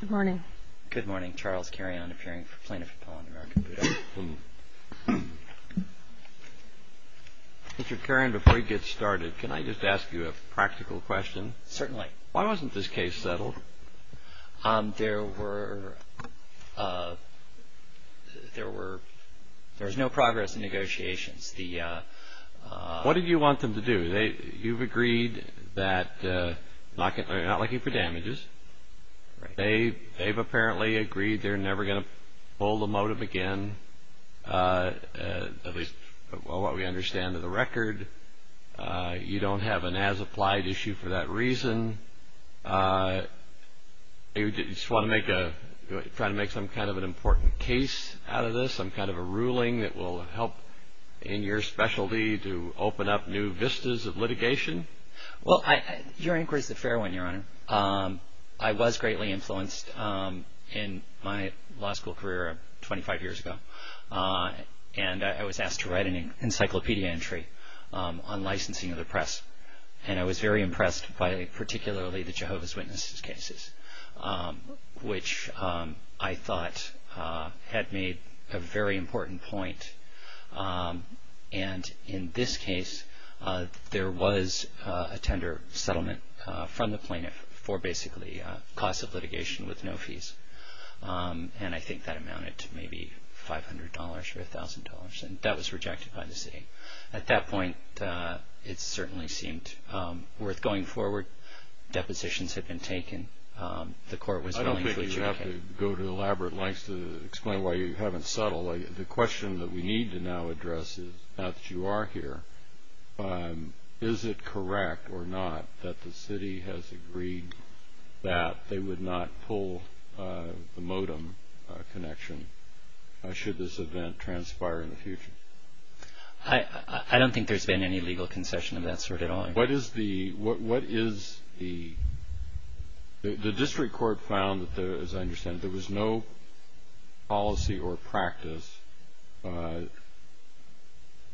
Good morning. Good morning. Charles Carion, appearing for Plaintiff of Poland, American Buddha. Mr. Carion, before we get started, can I just ask you a practical question? Certainly. Why wasn't this case settled? There was no progress in negotiations. What did you want them to do? You've agreed that they're not looking for damages. They've apparently agreed they're never going to pull the motive again, at least from what we understand of the record. You don't have an as-applied issue for that reason. You just want to try to make some kind of an important case out of this, some kind of a ruling that will help in your specialty to open up new vistas of litigation? Your inquiry is a fair one, Your Honor. I was greatly influenced in my law school career 25 years ago, and I was asked to write an encyclopedia entry on licensing of the press, and I was very impressed by particularly the Jehovah's Witnesses cases, which I thought had made a very important point. In this case, there was a tender settlement from the plaintiff for basically a cost of litigation with no fees, and I think that amounted to maybe $500 or $1,000, and that was rejected by the city. At that point, it certainly seemed worth going forward. Depositions had been taken. I don't think you have to go to elaborate lengths to explain why you haven't settled. The question that we need to now address is, now that you are here, is it correct or not that the city has agreed that they would not pull the modem connection should this event transpire in the future? I don't think there's been any legal concession of that sort at all. The district court found, as I understand it, there was no policy or practice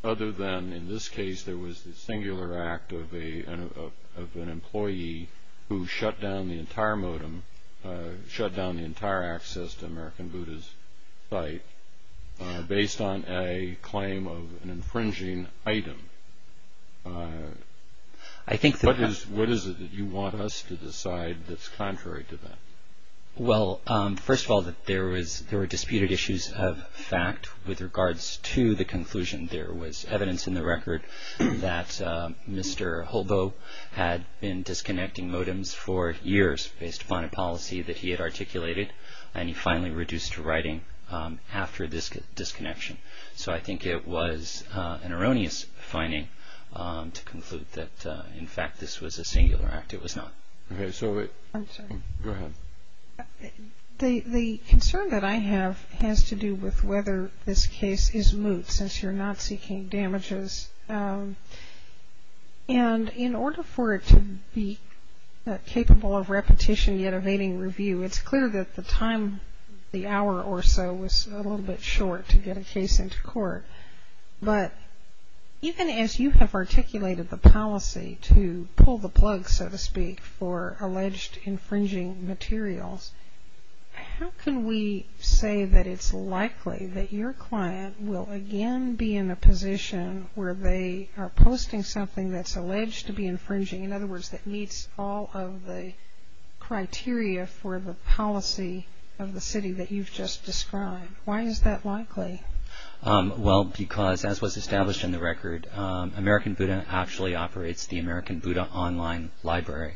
other than, in this case, there was the singular act of an employee who shut down the entire modem, shut down the entire access to American Buddha's site based on a claim of an infringing item. What is it that you want us to decide that's contrary to that? Well, first of all, there were disputed issues of fact with regards to the conclusion. There was evidence in the record that Mr. Holbo had been disconnecting modems for years based upon a policy that he had articulated, and he finally reduced to writing after this disconnection. So I think it was an erroneous finding to conclude that, in fact, this was a singular act. It was not. Okay, so wait. I'm sorry. Go ahead. The concern that I have has to do with whether this case is moot since you're not seeking damages. And in order for it to be capable of repetition yet evading review, it's clear that the time, the hour or so, was a little bit short to get a case into court. But even as you have articulated the policy to pull the plug, so to speak, for alleged infringing materials, how can we say that it's likely that your client will again be in a position where they are posting something that's alleged to be infringing, in other words, that meets all of the criteria for the policy of the city that you've just described? Why is that likely? Well, because, as was established in the record, American Buddha actually operates the American Buddha Online Library.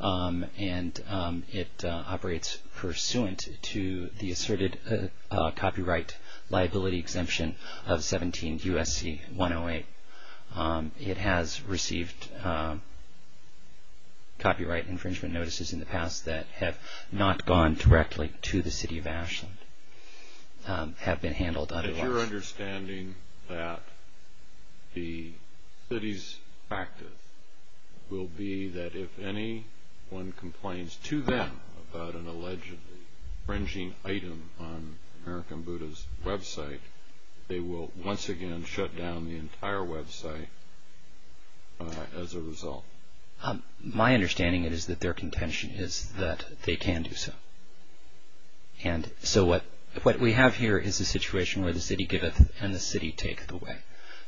And it operates pursuant to the asserted copyright liability exemption of 17 U.S.C. 108. It has received copyright infringement notices in the past that have not gone directly to the city of Ashland, but have been handled otherwise. Is your understanding that the city's practice will be that if anyone complains to them about an alleged infringing item on American Buddha's website, they will once again shut down the entire website as a result? My understanding is that their contention is that they can do so. And so what we have here is a situation where the city giveth and the city taketh away.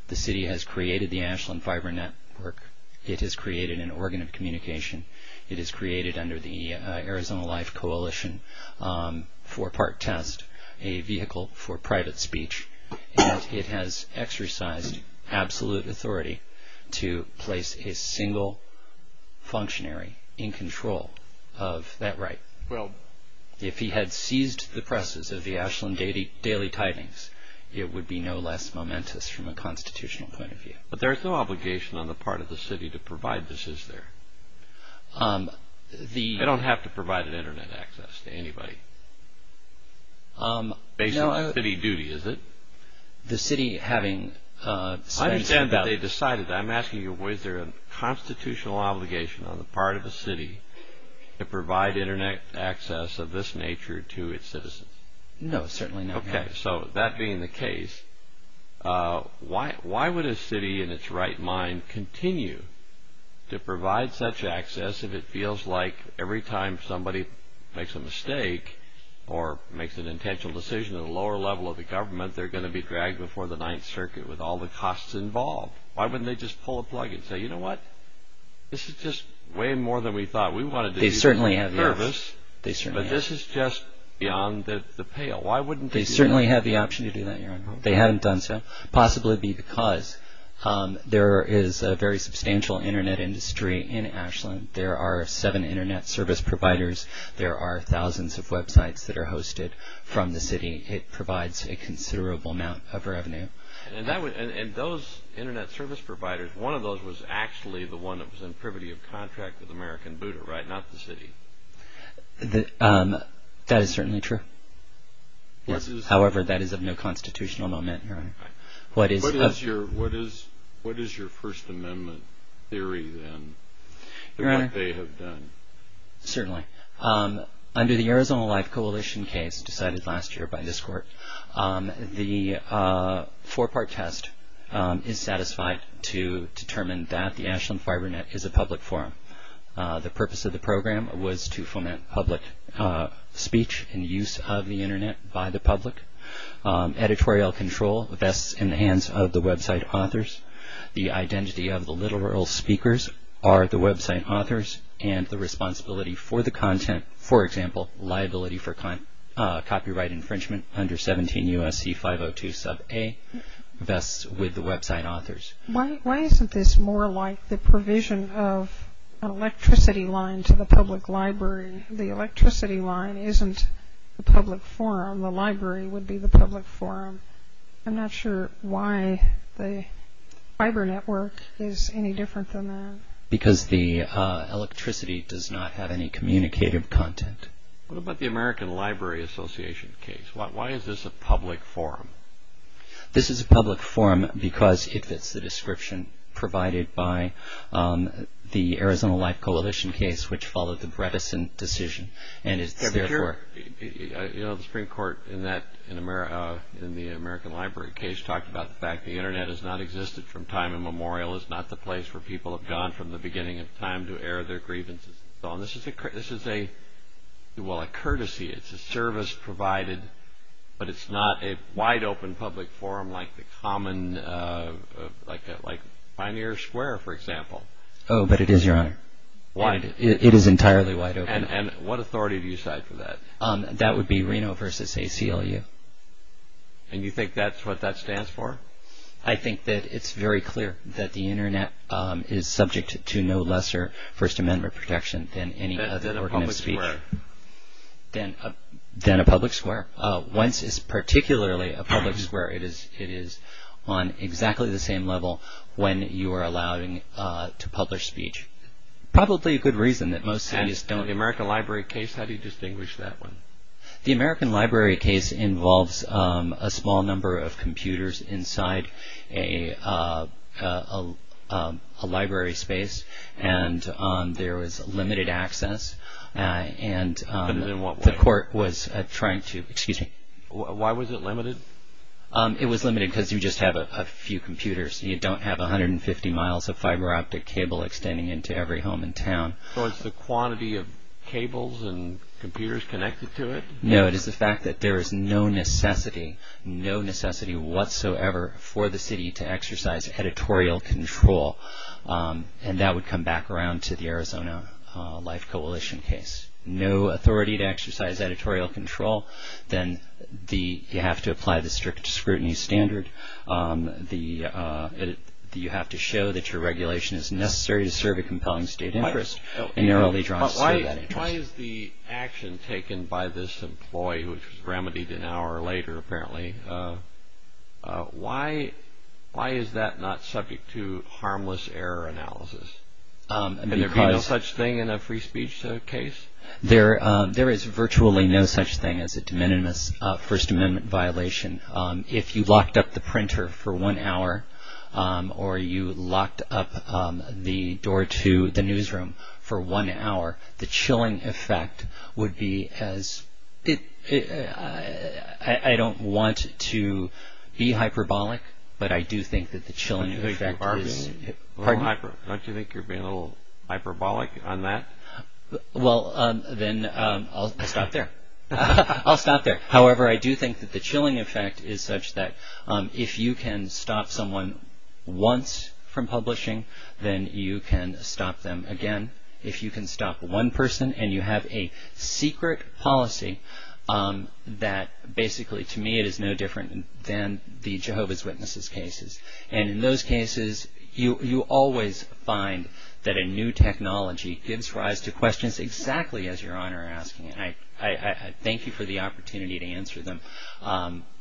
The city has created the Ashland Fiber Network. It has created an organ of communication. It has created under the Arizona Life Coalition, for part test, a vehicle for private speech. And it has exercised absolute authority to place a single functionary in control of that right. If he had seized the presses of the Ashland Daily Tidings, it would be no less momentous from a constitutional point of view. But there is no obligation on the part of the city to provide this, is there? They don't have to provide an internet access to anybody. Based on city duty, is it? I understand that they decided that. I'm asking you, was there a constitutional obligation on the part of the city to provide internet access of this nature to its citizens? No, certainly not. Okay, so that being the case, why would a city in its right mind continue to provide such access if it feels like every time somebody makes a mistake or makes an intentional decision at a lower level of the government, they're going to be dragged before the Ninth Circuit with all the costs involved? Why wouldn't they just pull a plug and say, you know what, this is just way more than we thought we wanted to do for the service. But this is just beyond the pale. They certainly have the option to do that, Your Honor. They haven't done so, possibly because there is a very substantial internet industry in Ashland There are seven internet service providers. There are thousands of websites that are hosted from the city. It provides a considerable amount of revenue. And those internet service providers, one of those was actually the one that was in privity of contract with American Buddha, right? Not the city. That is certainly true. However, that is of no constitutional moment, Your Honor. What is your First Amendment theory, then? What they have done. Certainly. Under the Arizona Life Coalition case decided last year by this court, the four-part test is satisfied to determine that the Ashland Fibernet is a public forum. The purpose of the program was to foment public speech and use of the internet by the public. Editorial control vests in the hands of the website authors. The identity of the literal speakers are the website authors and the responsibility for the content. For example, liability for copyright infringement under 17 U.S.C. 502 Sub A vests with the website authors. Why isn't this more like the provision of an electricity line to the public library? The electricity line isn't the public forum. The library would be the public forum. I'm not sure why the fiber network is any different than that. Because the electricity does not have any communicative content. What about the American Library Association case? Why is this a public forum? This is a public forum because it fits the description provided by the Arizona Life Coalition case, which followed the Bredesen decision. The Supreme Court in the American Library case talked about the fact that the internet has not existed from time immemorial. It's not the place where people have gone from the beginning of time to air their grievances. This is a courtesy. It's a service provided, but it's not a wide open public forum like Pioneer Square, for example. Oh, but it is, Your Honor. It is entirely wide open. And what authority do you cite for that? That would be Reno v. ACLU. And you think that's what that stands for? I think that it's very clear that the internet is subject to no lesser First Amendment protection than any other form of speech. Than a public square? Than a public square. Once it's particularly a public square, it is on exactly the same level when you are allowing to publish speech. Probably a good reason that most cities don't. And in the American Library case, how do you distinguish that one? The American Library case involves a small number of computers inside a library space. And there was limited access. And the court was trying to, excuse me. Why was it limited? It was limited because you just have a few computers. You don't have 150 miles of fiber optic cable extending into every home in town. So it's the quantity of cables and computers connected to it? No, it is the fact that there is no necessity, no necessity whatsoever for the city to exercise editorial control. And that would come back around to the Arizona Life Coalition case. No authority to exercise editorial control. Then you have to apply the strict scrutiny standard. You have to show that your regulation is necessary to serve a compelling state interest. Why is the action taken by this employee, which was remedied an hour later apparently, why is that not subject to harmless error analysis? And there would be no such thing in a free speech case? There is virtually no such thing as a de minimis First Amendment violation. If you locked up the printer for one hour or you locked up the door to the newsroom for one hour, the chilling effect would be as, I don't want to be hyperbolic, but I do think that the chilling effect is. Don't you think you're being a little hyperbolic on that? Well, then I'll stop there. I'll stop there. However, I do think that the chilling effect is such that if you can stop someone once from publishing, then you can stop them again. If you can stop one person and you have a secret policy that basically, to me, it is no different than the Jehovah's Witnesses cases. And in those cases, you always find that a new technology gives rise to questions exactly as you're on or asking. And I thank you for the opportunity to answer them.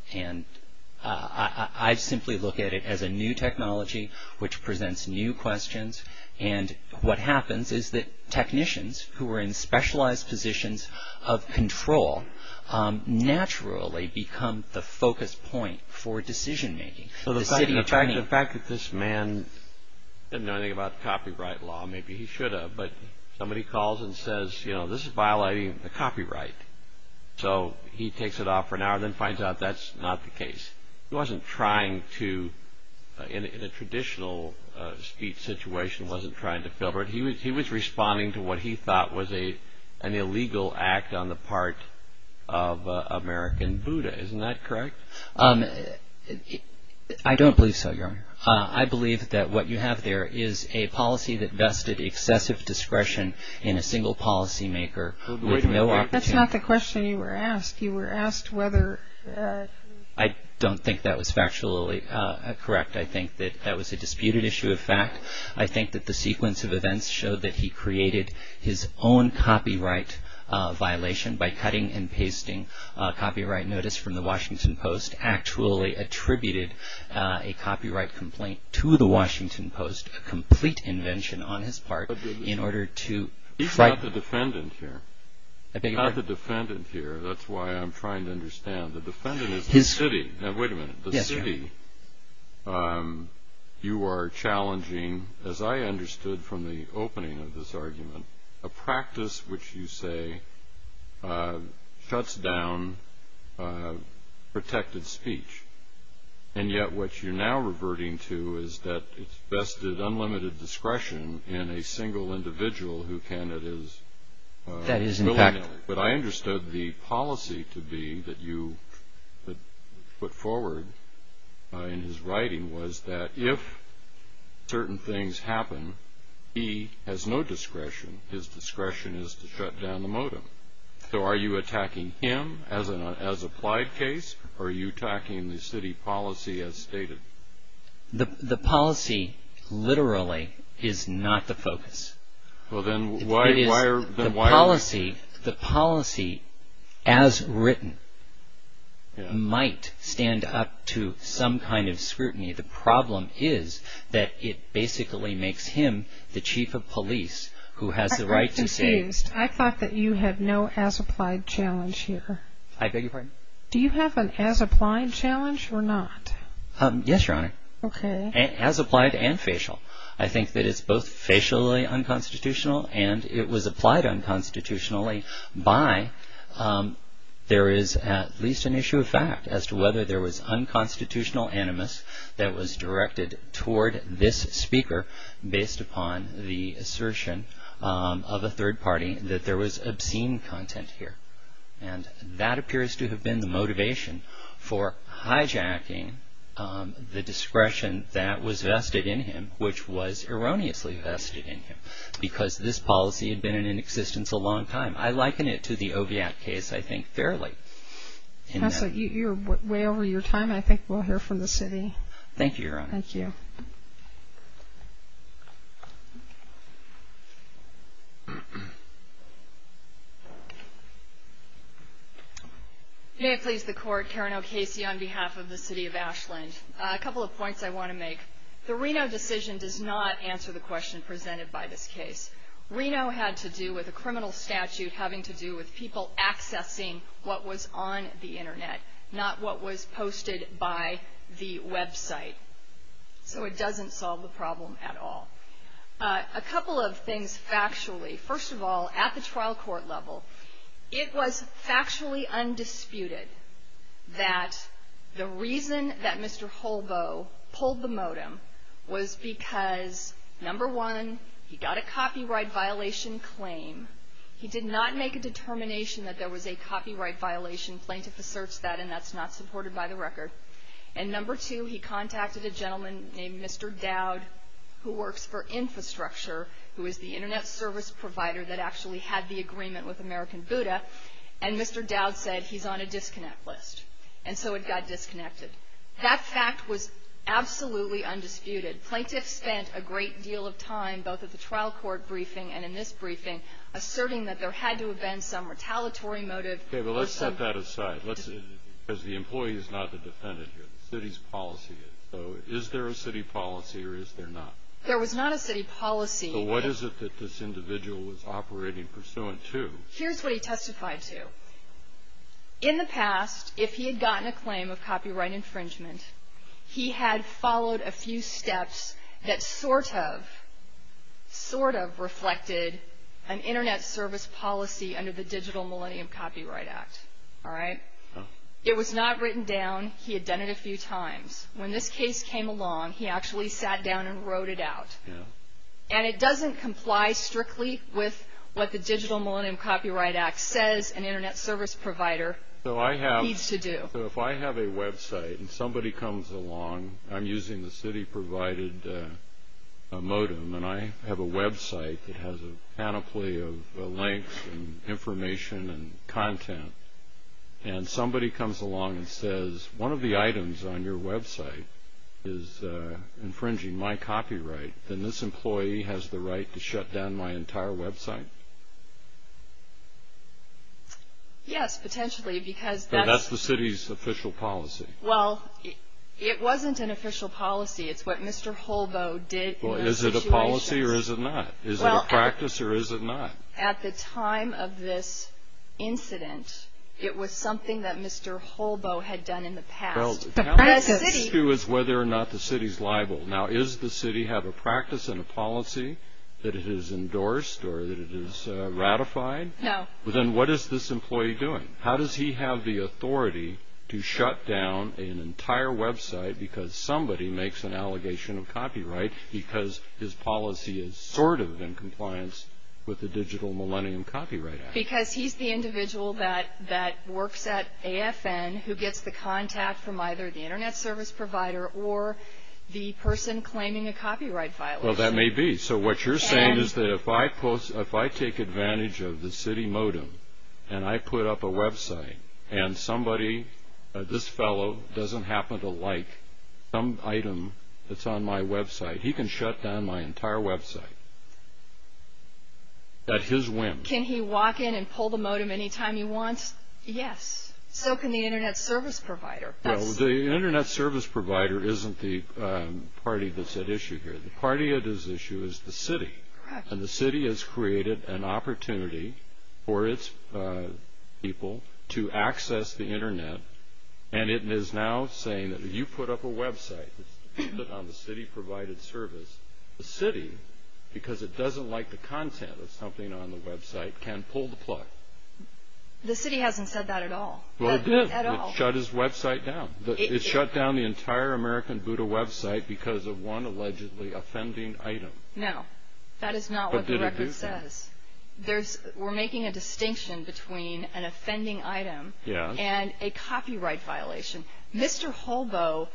And I simply look at it as a new technology which presents new questions. And what happens is that technicians who are in specialized positions of control naturally become the focus point for decision-making. So the fact that this man didn't know anything about copyright law, maybe he should have, but somebody calls and says, you know, this is violating the copyright. So he takes it off for an hour and then finds out that's not the case. He wasn't trying to, in a traditional speech situation, wasn't trying to filter it. He was responding to what he thought was an illegal act on the part of American Buddha. Isn't that correct? I don't believe so, Your Honor. I believe that what you have there is a policy that vested excessive discretion in a single policymaker with no opportunity. That's not the question you were asked. You were asked whether... I don't think that was factually correct. I think that that was a disputed issue of fact. I think that the sequence of events showed that he created his own copyright violation by cutting and pasting a copyright notice from the Washington Post, actually attributed a copyright complaint to the Washington Post, a complete invention on his part in order to... He's not the defendant here. I beg your pardon? He's not the defendant here. That's why I'm trying to understand. The defendant is the city. Now, wait a minute. The city, you are challenging, as I understood from the opening of this argument, a practice which you say shuts down protected speech, and yet what you're now reverting to is that it's vested unlimited discretion in a single individual who can and is... That is in fact... But I understood the policy to be that you put forward in his writing was that if certain things happen, he has no discretion. His discretion is to shut down the modem. So are you attacking him as an applied case, or are you attacking the city policy as stated? The policy literally is not the focus. Well, then why are... The policy as written might stand up to some kind of scrutiny. The problem is that it basically makes him the chief of police who has the right to say... Excuse. I thought that you had no as applied challenge here. I beg your pardon? Do you have an as applied challenge or not? Yes, Your Honor. Okay. As applied and facial. I think that it's both facially unconstitutional and it was applied unconstitutionally by... There is at least an issue of fact as to whether there was unconstitutional animus that was directed toward this speaker based upon the assertion of a third party that there was obscene content here. And that appears to have been the motivation for hijacking the discretion that was vested in him, which was erroneously vested in him, because this policy had been in existence a long time. I liken it to the Oviatt case, I think, fairly. You're way over your time. I think we'll hear from the city. Thank you, Your Honor. Thank you. May it please the court, Karen O'Casey on behalf of the city of Ashland. A couple of points I want to make. The Reno decision does not answer the question presented by this case. Reno had to do with a criminal statute having to do with people accessing what was on the Internet, not what was posted by the website. So it doesn't solve the problem at all. A couple of things factually. First of all, at the trial court level, it was factually undisputed that the reason that Mr. Holbow pulled the modem was because, number one, he got a copyright violation claim. He did not make a determination that there was a copyright violation. Plaintiff asserts that, and that's not supported by the record. And number two, he contacted a gentleman named Mr. Dowd, who works for infrastructure, who is the Internet service provider that actually had the agreement with American Buddha, and Mr. Dowd said he's on a disconnect list. And so it got disconnected. That fact was absolutely undisputed. Plaintiffs spent a great deal of time, both at the trial court briefing and in this briefing, asserting that there had to have been some retaliatory motive. Okay. But let's set that aside. Because the employee is not the defendant here. The city's policy is. So is there a city policy or is there not? There was not a city policy. So what is it that this individual was operating pursuant to? Here's what he testified to. In the past, if he had gotten a claim of copyright infringement, he had followed a few steps that sort of, sort of reflected an Internet service policy under the Digital Millennium Copyright Act. All right? It was not written down. He had done it a few times. When this case came along, he actually sat down and wrote it out. And it doesn't comply strictly with what the Digital Millennium Copyright Act says an Internet service provider needs to do. So if I have a website and somebody comes along, I'm using the city-provided modem, and I have a website that has a panoply of links and information and content, and somebody comes along and says, one of the items on your website is infringing my copyright, then this employee has the right to shut down my entire website. Yes, potentially, because that's. That's the city's official policy. Well, it wasn't an official policy. It's what Mr. Holbow did in those situations. Well, is it a policy or is it not? Is it a practice or is it not? At the time of this incident, it was something that Mr. Holbow had done in the past. The issue is whether or not the city's liable. Now, does the city have a practice and a policy that it has endorsed or that it has ratified? No. Then what is this employee doing? How does he have the authority to shut down an entire website because somebody makes an allegation of copyright because his policy is sort of in compliance with the Digital Millennium Copyright Act? Because he's the individual that works at AFN who gets the contact from either the internet service provider or the person claiming a copyright violation. Well, that may be. So what you're saying is that if I take advantage of the city modem and I put up a website and somebody, this fellow, doesn't happen to like some item that's on my website, he can shut down my entire website at his whim. Can he walk in and pull the modem anytime he wants? Yes. So can the internet service provider. Well, the internet service provider isn't the party that's at issue here. The party at issue is the city. Correct. And the city has created an opportunity for its people to access the internet and it is now saying that if you put up a website on the city-provided service, the city, because it doesn't like the content of something on the website, can pull the plug. The city hasn't said that at all. Well, it did. It shut his website down. It shut down the entire American Buddha website because of one allegedly offending item. That is not what the record says. But did it do that? We're making a distinction between an offending item and a copyright violation. Mr. Holboe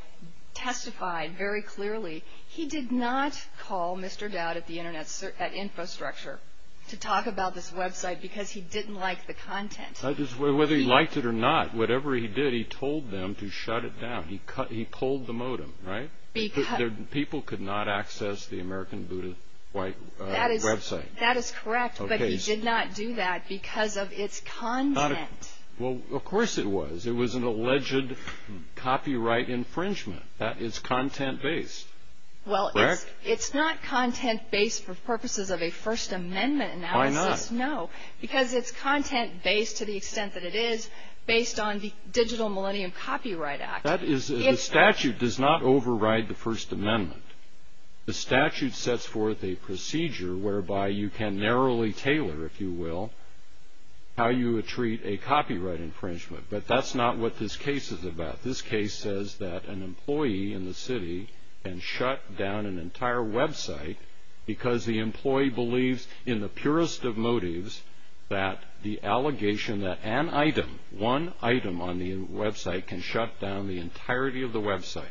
testified very clearly. He did not call Mr. Dowd at the internet infrastructure to talk about this website because he didn't like the content. Whether he liked it or not, whatever he did, he told them to shut it down. He pulled the modem, right? People could not access the American Buddha website. That is correct, but he did not do that because of its content. Well, of course it was. It was an alleged copyright infringement. That is content-based. Well, it's not content-based for purposes of a First Amendment analysis. Why not? No, because it's content-based to the extent that it is based on the Digital Millennium Copyright Act. The statute does not override the First Amendment. The statute sets forth a procedure whereby you can narrowly tailor, if you will, how you would treat a copyright infringement. But that's not what this case is about. This case says that an employee in the city can shut down an entire website because the employee believes, in the purest of motives, that the allegation that an item, one item on the website, can shut down the entirety of the website.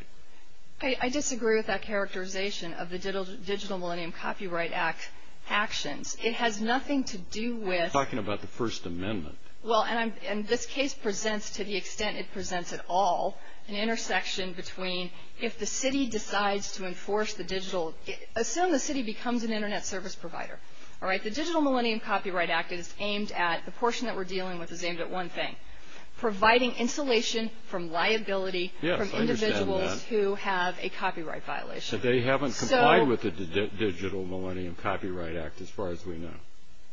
I disagree with that characterization of the Digital Millennium Copyright Act actions. It has nothing to do with. I'm talking about the First Amendment. Well, and this case presents, to the extent it presents at all, an intersection between if the city decides to enforce the digital. Assume the city becomes an Internet service provider. The Digital Millennium Copyright Act is aimed at, the portion that we're dealing with is aimed at one thing, providing insulation from liability from individuals who have a copyright violation. They haven't complied with the Digital Millennium Copyright Act, as far as we know.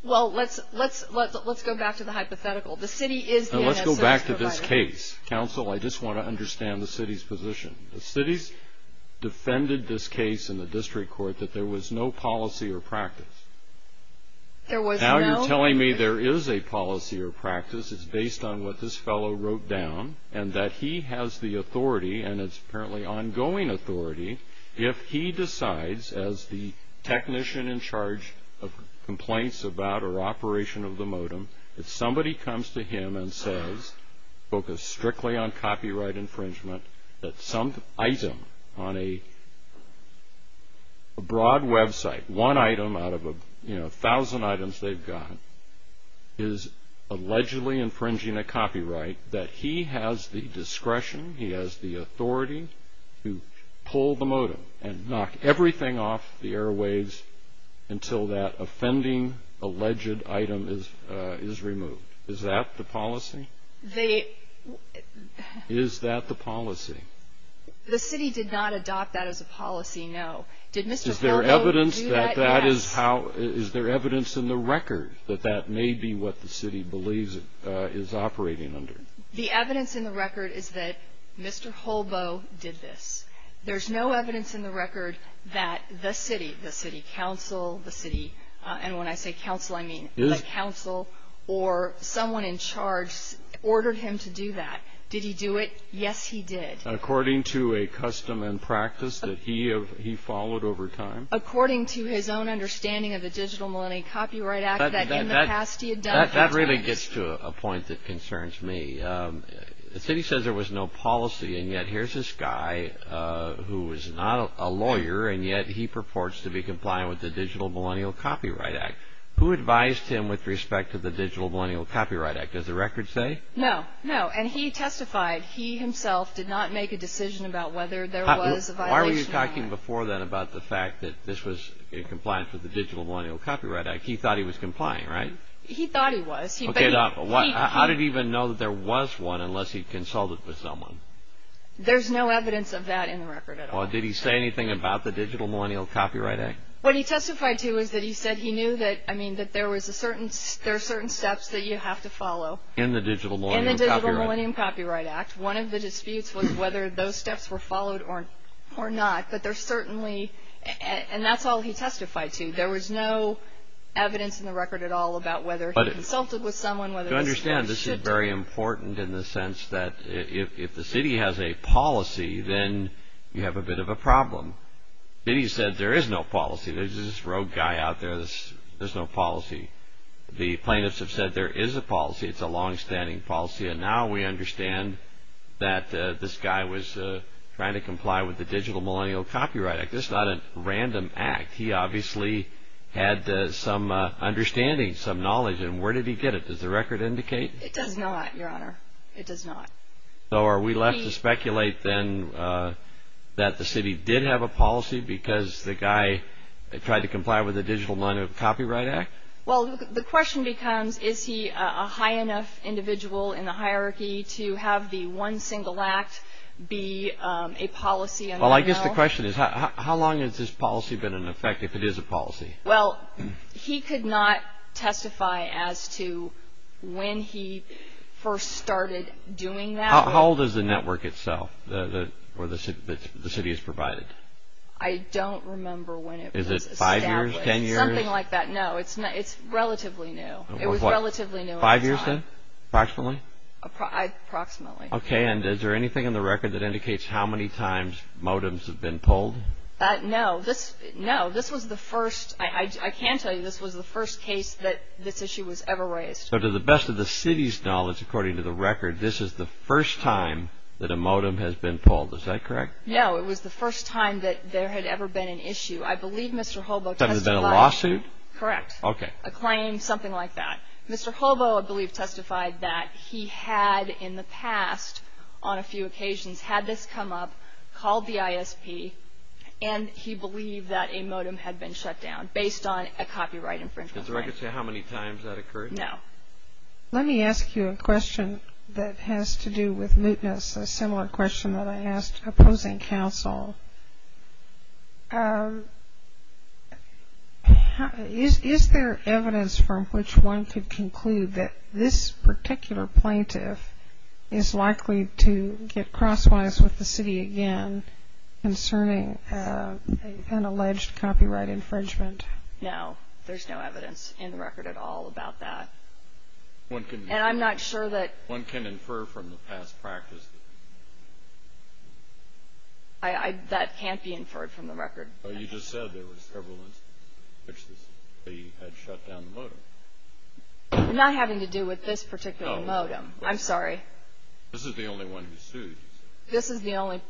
Well, let's go back to the hypothetical. The city is the Internet service provider. Let's go back to this case. Counsel, I just want to understand the city's position. The city's defended this case in the district court that there was no policy or practice. Now you're telling me there is a policy or practice. It's based on what this fellow wrote down, and that he has the authority, and it's apparently ongoing authority, if he decides, as the technician in charge of complaints about or operation of the modem, if somebody comes to him and says, focus strictly on copyright infringement, that some item on a broad website, one item out of a thousand items they've got, is allegedly infringing a copyright, that he has the discretion, he has the authority to pull the modem and knock everything off the airwaves until that offending alleged item is removed. Is that the policy? Is that the policy? The city did not adopt that as a policy, no. Did Mr. Feldo do that? Yes. Is there evidence in the record that that may be what the city believes it is operating under? The evidence in the record is that Mr. Holbow did this. There's no evidence in the record that the city, the city council, the city, and when I say council, I mean the council or someone in charge ordered him to do that. Did he do it? Yes, he did. According to a custom and practice that he followed over time? According to his own understanding of the Digital Millennium Copyright Act that in the past he had done. That really gets to a point that concerns me. The city says there was no policy and yet here's this guy who is not a lawyer and yet he purports to be complying with the Digital Millennium Copyright Act. Who advised him with respect to the Digital Millennium Copyright Act? Does the record say? No, no, and he testified. He himself did not make a decision about whether there was a violation. Why were you talking before then about the fact that this was in compliance with the Digital Millennium Copyright Act? He thought he was complying, right? He thought he was. How did he even know that there was one unless he consulted with someone? There's no evidence of that in the record at all. Did he say anything about the Digital Millennium Copyright Act? What he testified to is that he said he knew that, I mean, that there are certain steps that you have to follow. In the Digital Millennium Copyright Act? In the Digital Millennium Copyright Act. One of the disputes was whether those steps were followed or not, but there certainly, and that's all he testified to. There was no evidence in the record at all about whether he consulted with someone, whether these steps should. To understand, this is very important in the sense that if the city has a policy, then you have a bit of a problem. He said there is no policy. There's this rogue guy out there, there's no policy. The plaintiffs have said there is a policy, it's a longstanding policy, and now we understand that this guy was trying to comply with the Digital Millennium Copyright Act. This is not a random act. He obviously had some understanding, some knowledge, and where did he get it? Does the record indicate? It does not, Your Honor. It does not. So are we left to speculate then that the city did have a policy because the guy tried to comply with the Digital Millennium Copyright Act? Well, the question becomes is he a high enough individual in the hierarchy to have the one single act be a policy? Well, I guess the question is how long has this policy been in effect if it is a policy? Well, he could not testify as to when he first started doing that. How old is the network itself where the city is provided? I don't remember when it was established. Is it five years, ten years? Something like that. No, it's relatively new. It was relatively new at the time. Five years then, approximately? Approximately. Okay, and is there anything in the record that indicates how many times modems have been pulled? No, this was the first. I can tell you this was the first case that this issue was ever raised. So to the best of the city's knowledge, according to the record, this is the first time that a modem has been pulled. Is that correct? No, it was the first time that there had ever been an issue. I believe Mr. Hobo testified. Has there been a lawsuit? Correct. Okay. A claim, something like that. Mr. Hobo, I believe, testified that he had in the past on a few occasions had this come up, called the ISP, and he believed that a modem had been shut down based on a copyright infringement claim. Does the record say how many times that occurred? No. Let me ask you a question that has to do with mootness, a similar question that I asked opposing counsel. Is there evidence from which one could conclude that this particular plaintiff is likely to get crosswise with the city again concerning an alleged copyright infringement? No. There's no evidence in the record at all about that. And I'm not sure that one can infer from the past practice. That can't be inferred from the record. You just said there were several instances in which the city had shut down the modem. Not having to do with this particular modem. I'm sorry. This is the only one who sued. This is the only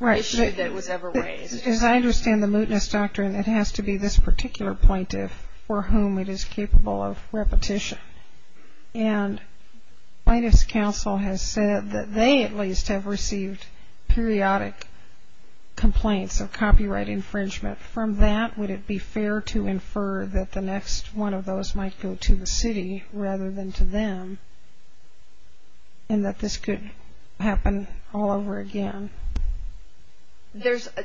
issue that was ever raised. As I understand the mootness doctrine, it has to be this particular plaintiff for whom it is capable of repetition. And plaintiff's counsel has said that they at least have received periodic complaints of copyright infringement. From that, would it be fair to infer that the next one of those might go to the city rather than to them and that this could happen all over again?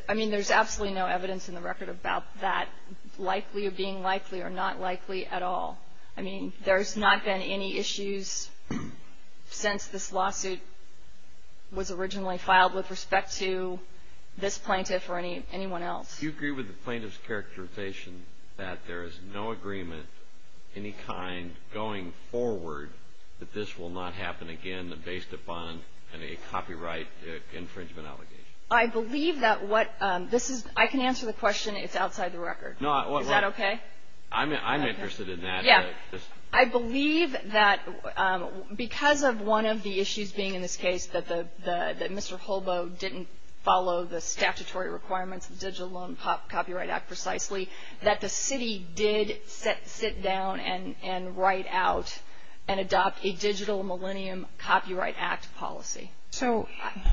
I mean, there's absolutely no evidence in the record about that likely or being likely or not likely at all. I mean, there's not been any issues since this lawsuit was originally filed with respect to this plaintiff or anyone else. Do you agree with the plaintiff's characterization that there is no agreement of any kind going forward that this will not happen again based upon a copyright infringement allegation? I believe that what this is. I can answer the question. It's outside the record. Is that okay? I'm interested in that. Yeah. I believe that because of one of the issues being in this case, that Mr. Holbo didn't follow the statutory requirements of the Digital Loan Copyright Act precisely, that the city did sit down and write out and adopt a Digital Millennium Copyright Act policy. So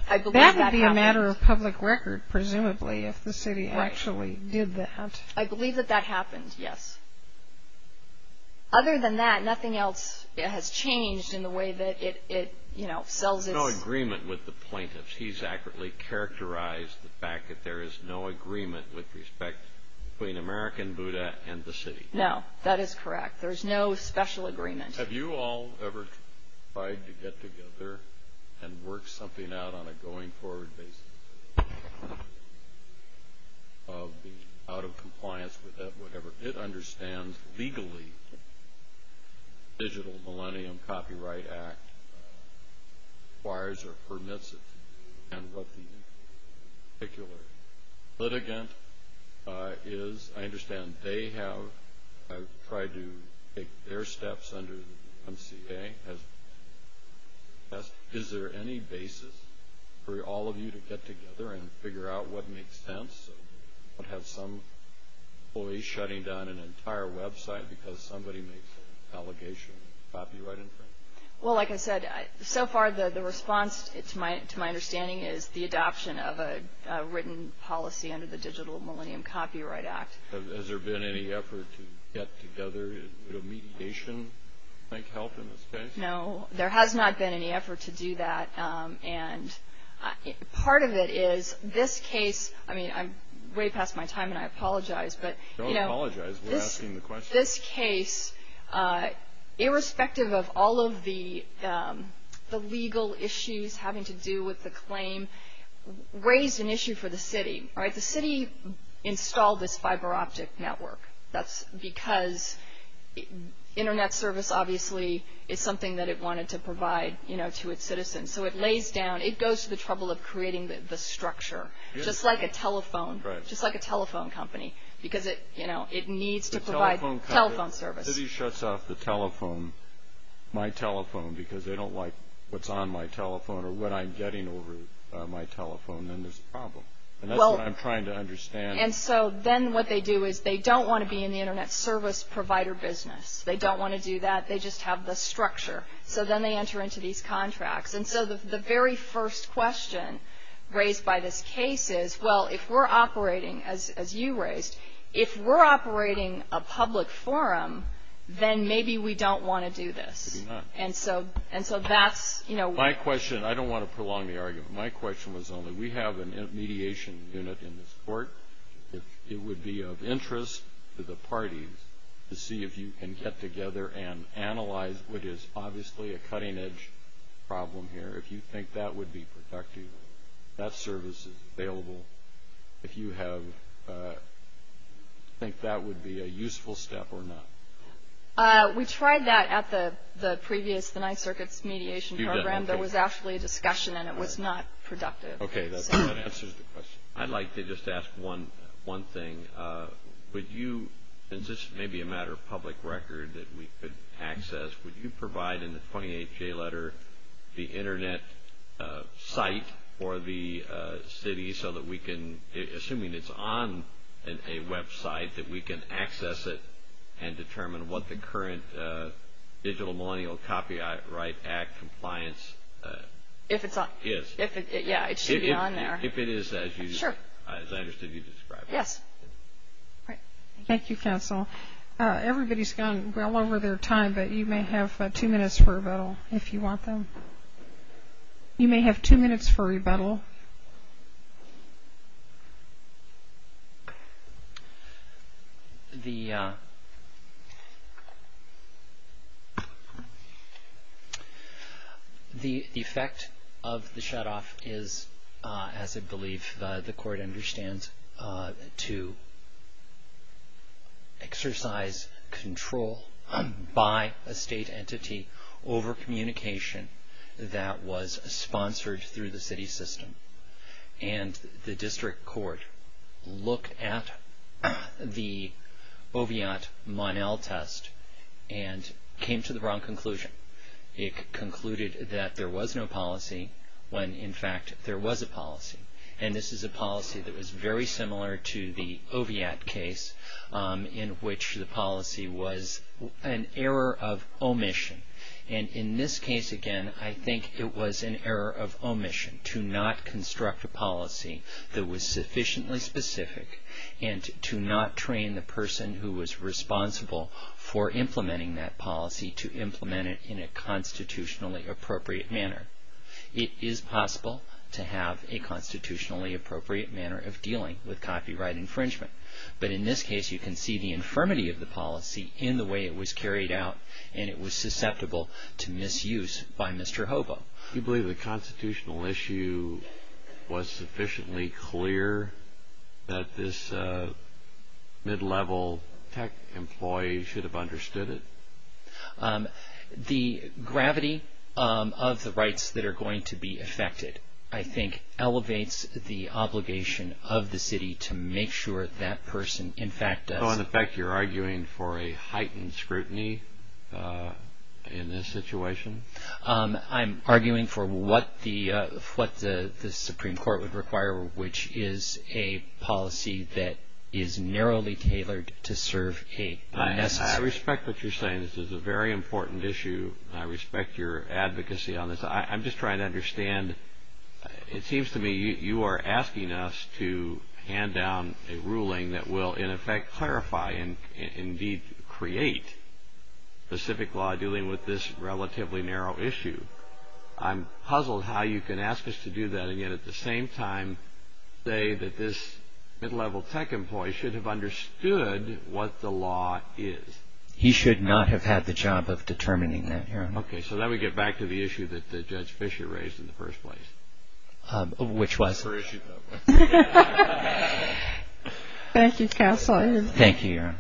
that would be a matter of public record, presumably, if the city actually did that. I believe that that happened, yes. Other than that, nothing else has changed in the way that it, you know, sells its- There's no agreement with the plaintiff's. He's accurately characterized the fact that there is no agreement with respect between American Buddha and the city. No, that is correct. There's no special agreement. Have you all ever tried to get together and work something out on a going-forward basis? Out of compliance with that, whatever. It understands legally the Digital Millennium Copyright Act requires or permits it. And what the particular litigant is. I understand they have tried to take their steps under the MCA. Is there any basis for all of you to get together and figure out what makes sense? What has some employees shutting down an entire website because somebody makes an allegation of copyright infringement? Well, like I said, so far the response, to my understanding, is the adoption of a written policy under the Digital Millennium Copyright Act. Has there been any effort to get together in mediation to make help in this case? No, there has not been any effort to do that. And part of it is this case- I mean, I'm way past my time and I apologize, but- Don't apologize. We're asking the questions. In this case, irrespective of all of the legal issues having to do with the claim, raised an issue for the city. The city installed this fiber optic network. That's because Internet service, obviously, is something that it wanted to provide to its citizens. So it lays down- it goes to the trouble of creating the structure, just like a telephone company. Because it needs to provide telephone service. If the city shuts off the telephone, my telephone, because they don't like what's on my telephone or what I'm getting over my telephone, then there's a problem. And that's what I'm trying to understand. And so then what they do is they don't want to be in the Internet service provider business. They don't want to do that. They just have the structure. So then they enter into these contracts. And so the very first question raised by this case is, well, if we're operating, as you raised, if we're operating a public forum, then maybe we don't want to do this. Maybe not. And so that's- My question- I don't want to prolong the argument. My question was only, we have a mediation unit in this court. It would be of interest to the parties to see if you can get together and analyze what is obviously a cutting-edge problem here. If you think that would be productive, that service is available. If you think that would be a useful step or not. We tried that at the previous, the Ninth Circuit's mediation program. There was actually a discussion, and it was not productive. Okay, that answers the question. I'd like to just ask one thing. Would you, and this may be a matter of public record that we could access, would you provide in the 28-J letter the internet site for the city so that we can, assuming it's on a website, that we can access it and determine what the current Digital Millennial Copyright Act compliance is? If it's on- Yes. Yeah, it should be on there. If it is as you- Sure. Yes. Thank you, counsel. Everybody's gone well over their time, but you may have two minutes for rebuttal if you want them. You may have two minutes for rebuttal. The effect of the shutoff is, as I believe the Court understands, to exercise control by a state entity over communication that was sponsored through the city system. And the district court looked at the Oviatt-Monel test and came to the wrong conclusion. It concluded that there was no policy when, in fact, there was a policy. And this is a policy that was very similar to the Oviatt case in which the policy was an error of omission. And in this case, again, I think it was an error of omission to not construct a policy that was sufficiently specific and to not train the person who was responsible for implementing that policy to implement it in a constitutionally appropriate manner. It is possible to have a constitutionally appropriate manner of dealing with copyright infringement. But in this case, you can see the infirmity of the policy in the way it was carried out and it was susceptible to misuse by Mr. Hobo. Do you believe the constitutional issue was sufficiently clear that this mid-level tech employee should have understood it? The gravity of the rights that are going to be affected, I think, elevates the obligation of the city to make sure that person, in fact, does. So, in effect, you're arguing for a heightened scrutiny in this situation? I'm arguing for what the Supreme Court would require, which is a policy that is narrowly tailored to serve a necessity. I respect what you're saying. This is a very important issue. I respect your advocacy on this. I'm just trying to understand. It seems to me you are asking us to hand down a ruling that will, in effect, clarify and indeed create specific law dealing with this relatively narrow issue. I'm puzzled how you can ask us to do that and yet, at the same time, say that this mid-level tech employee should have understood what the law is. He should not have had the job of determining that, Your Honor. Okay. So, then we get back to the issue that Judge Fischer raised in the first place. Which was? Thank you, Counsel. Thank you, Your Honor.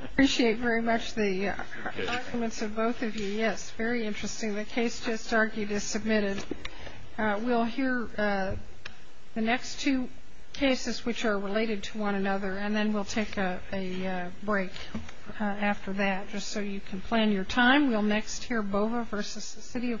I appreciate very much the arguments of both of you. Yes, very interesting. The case just argued is submitted. We'll hear the next two cases, which are related to one another, and then we'll take a break after that, just so you can plan your time. We'll next hear Bova v. The City of Portland.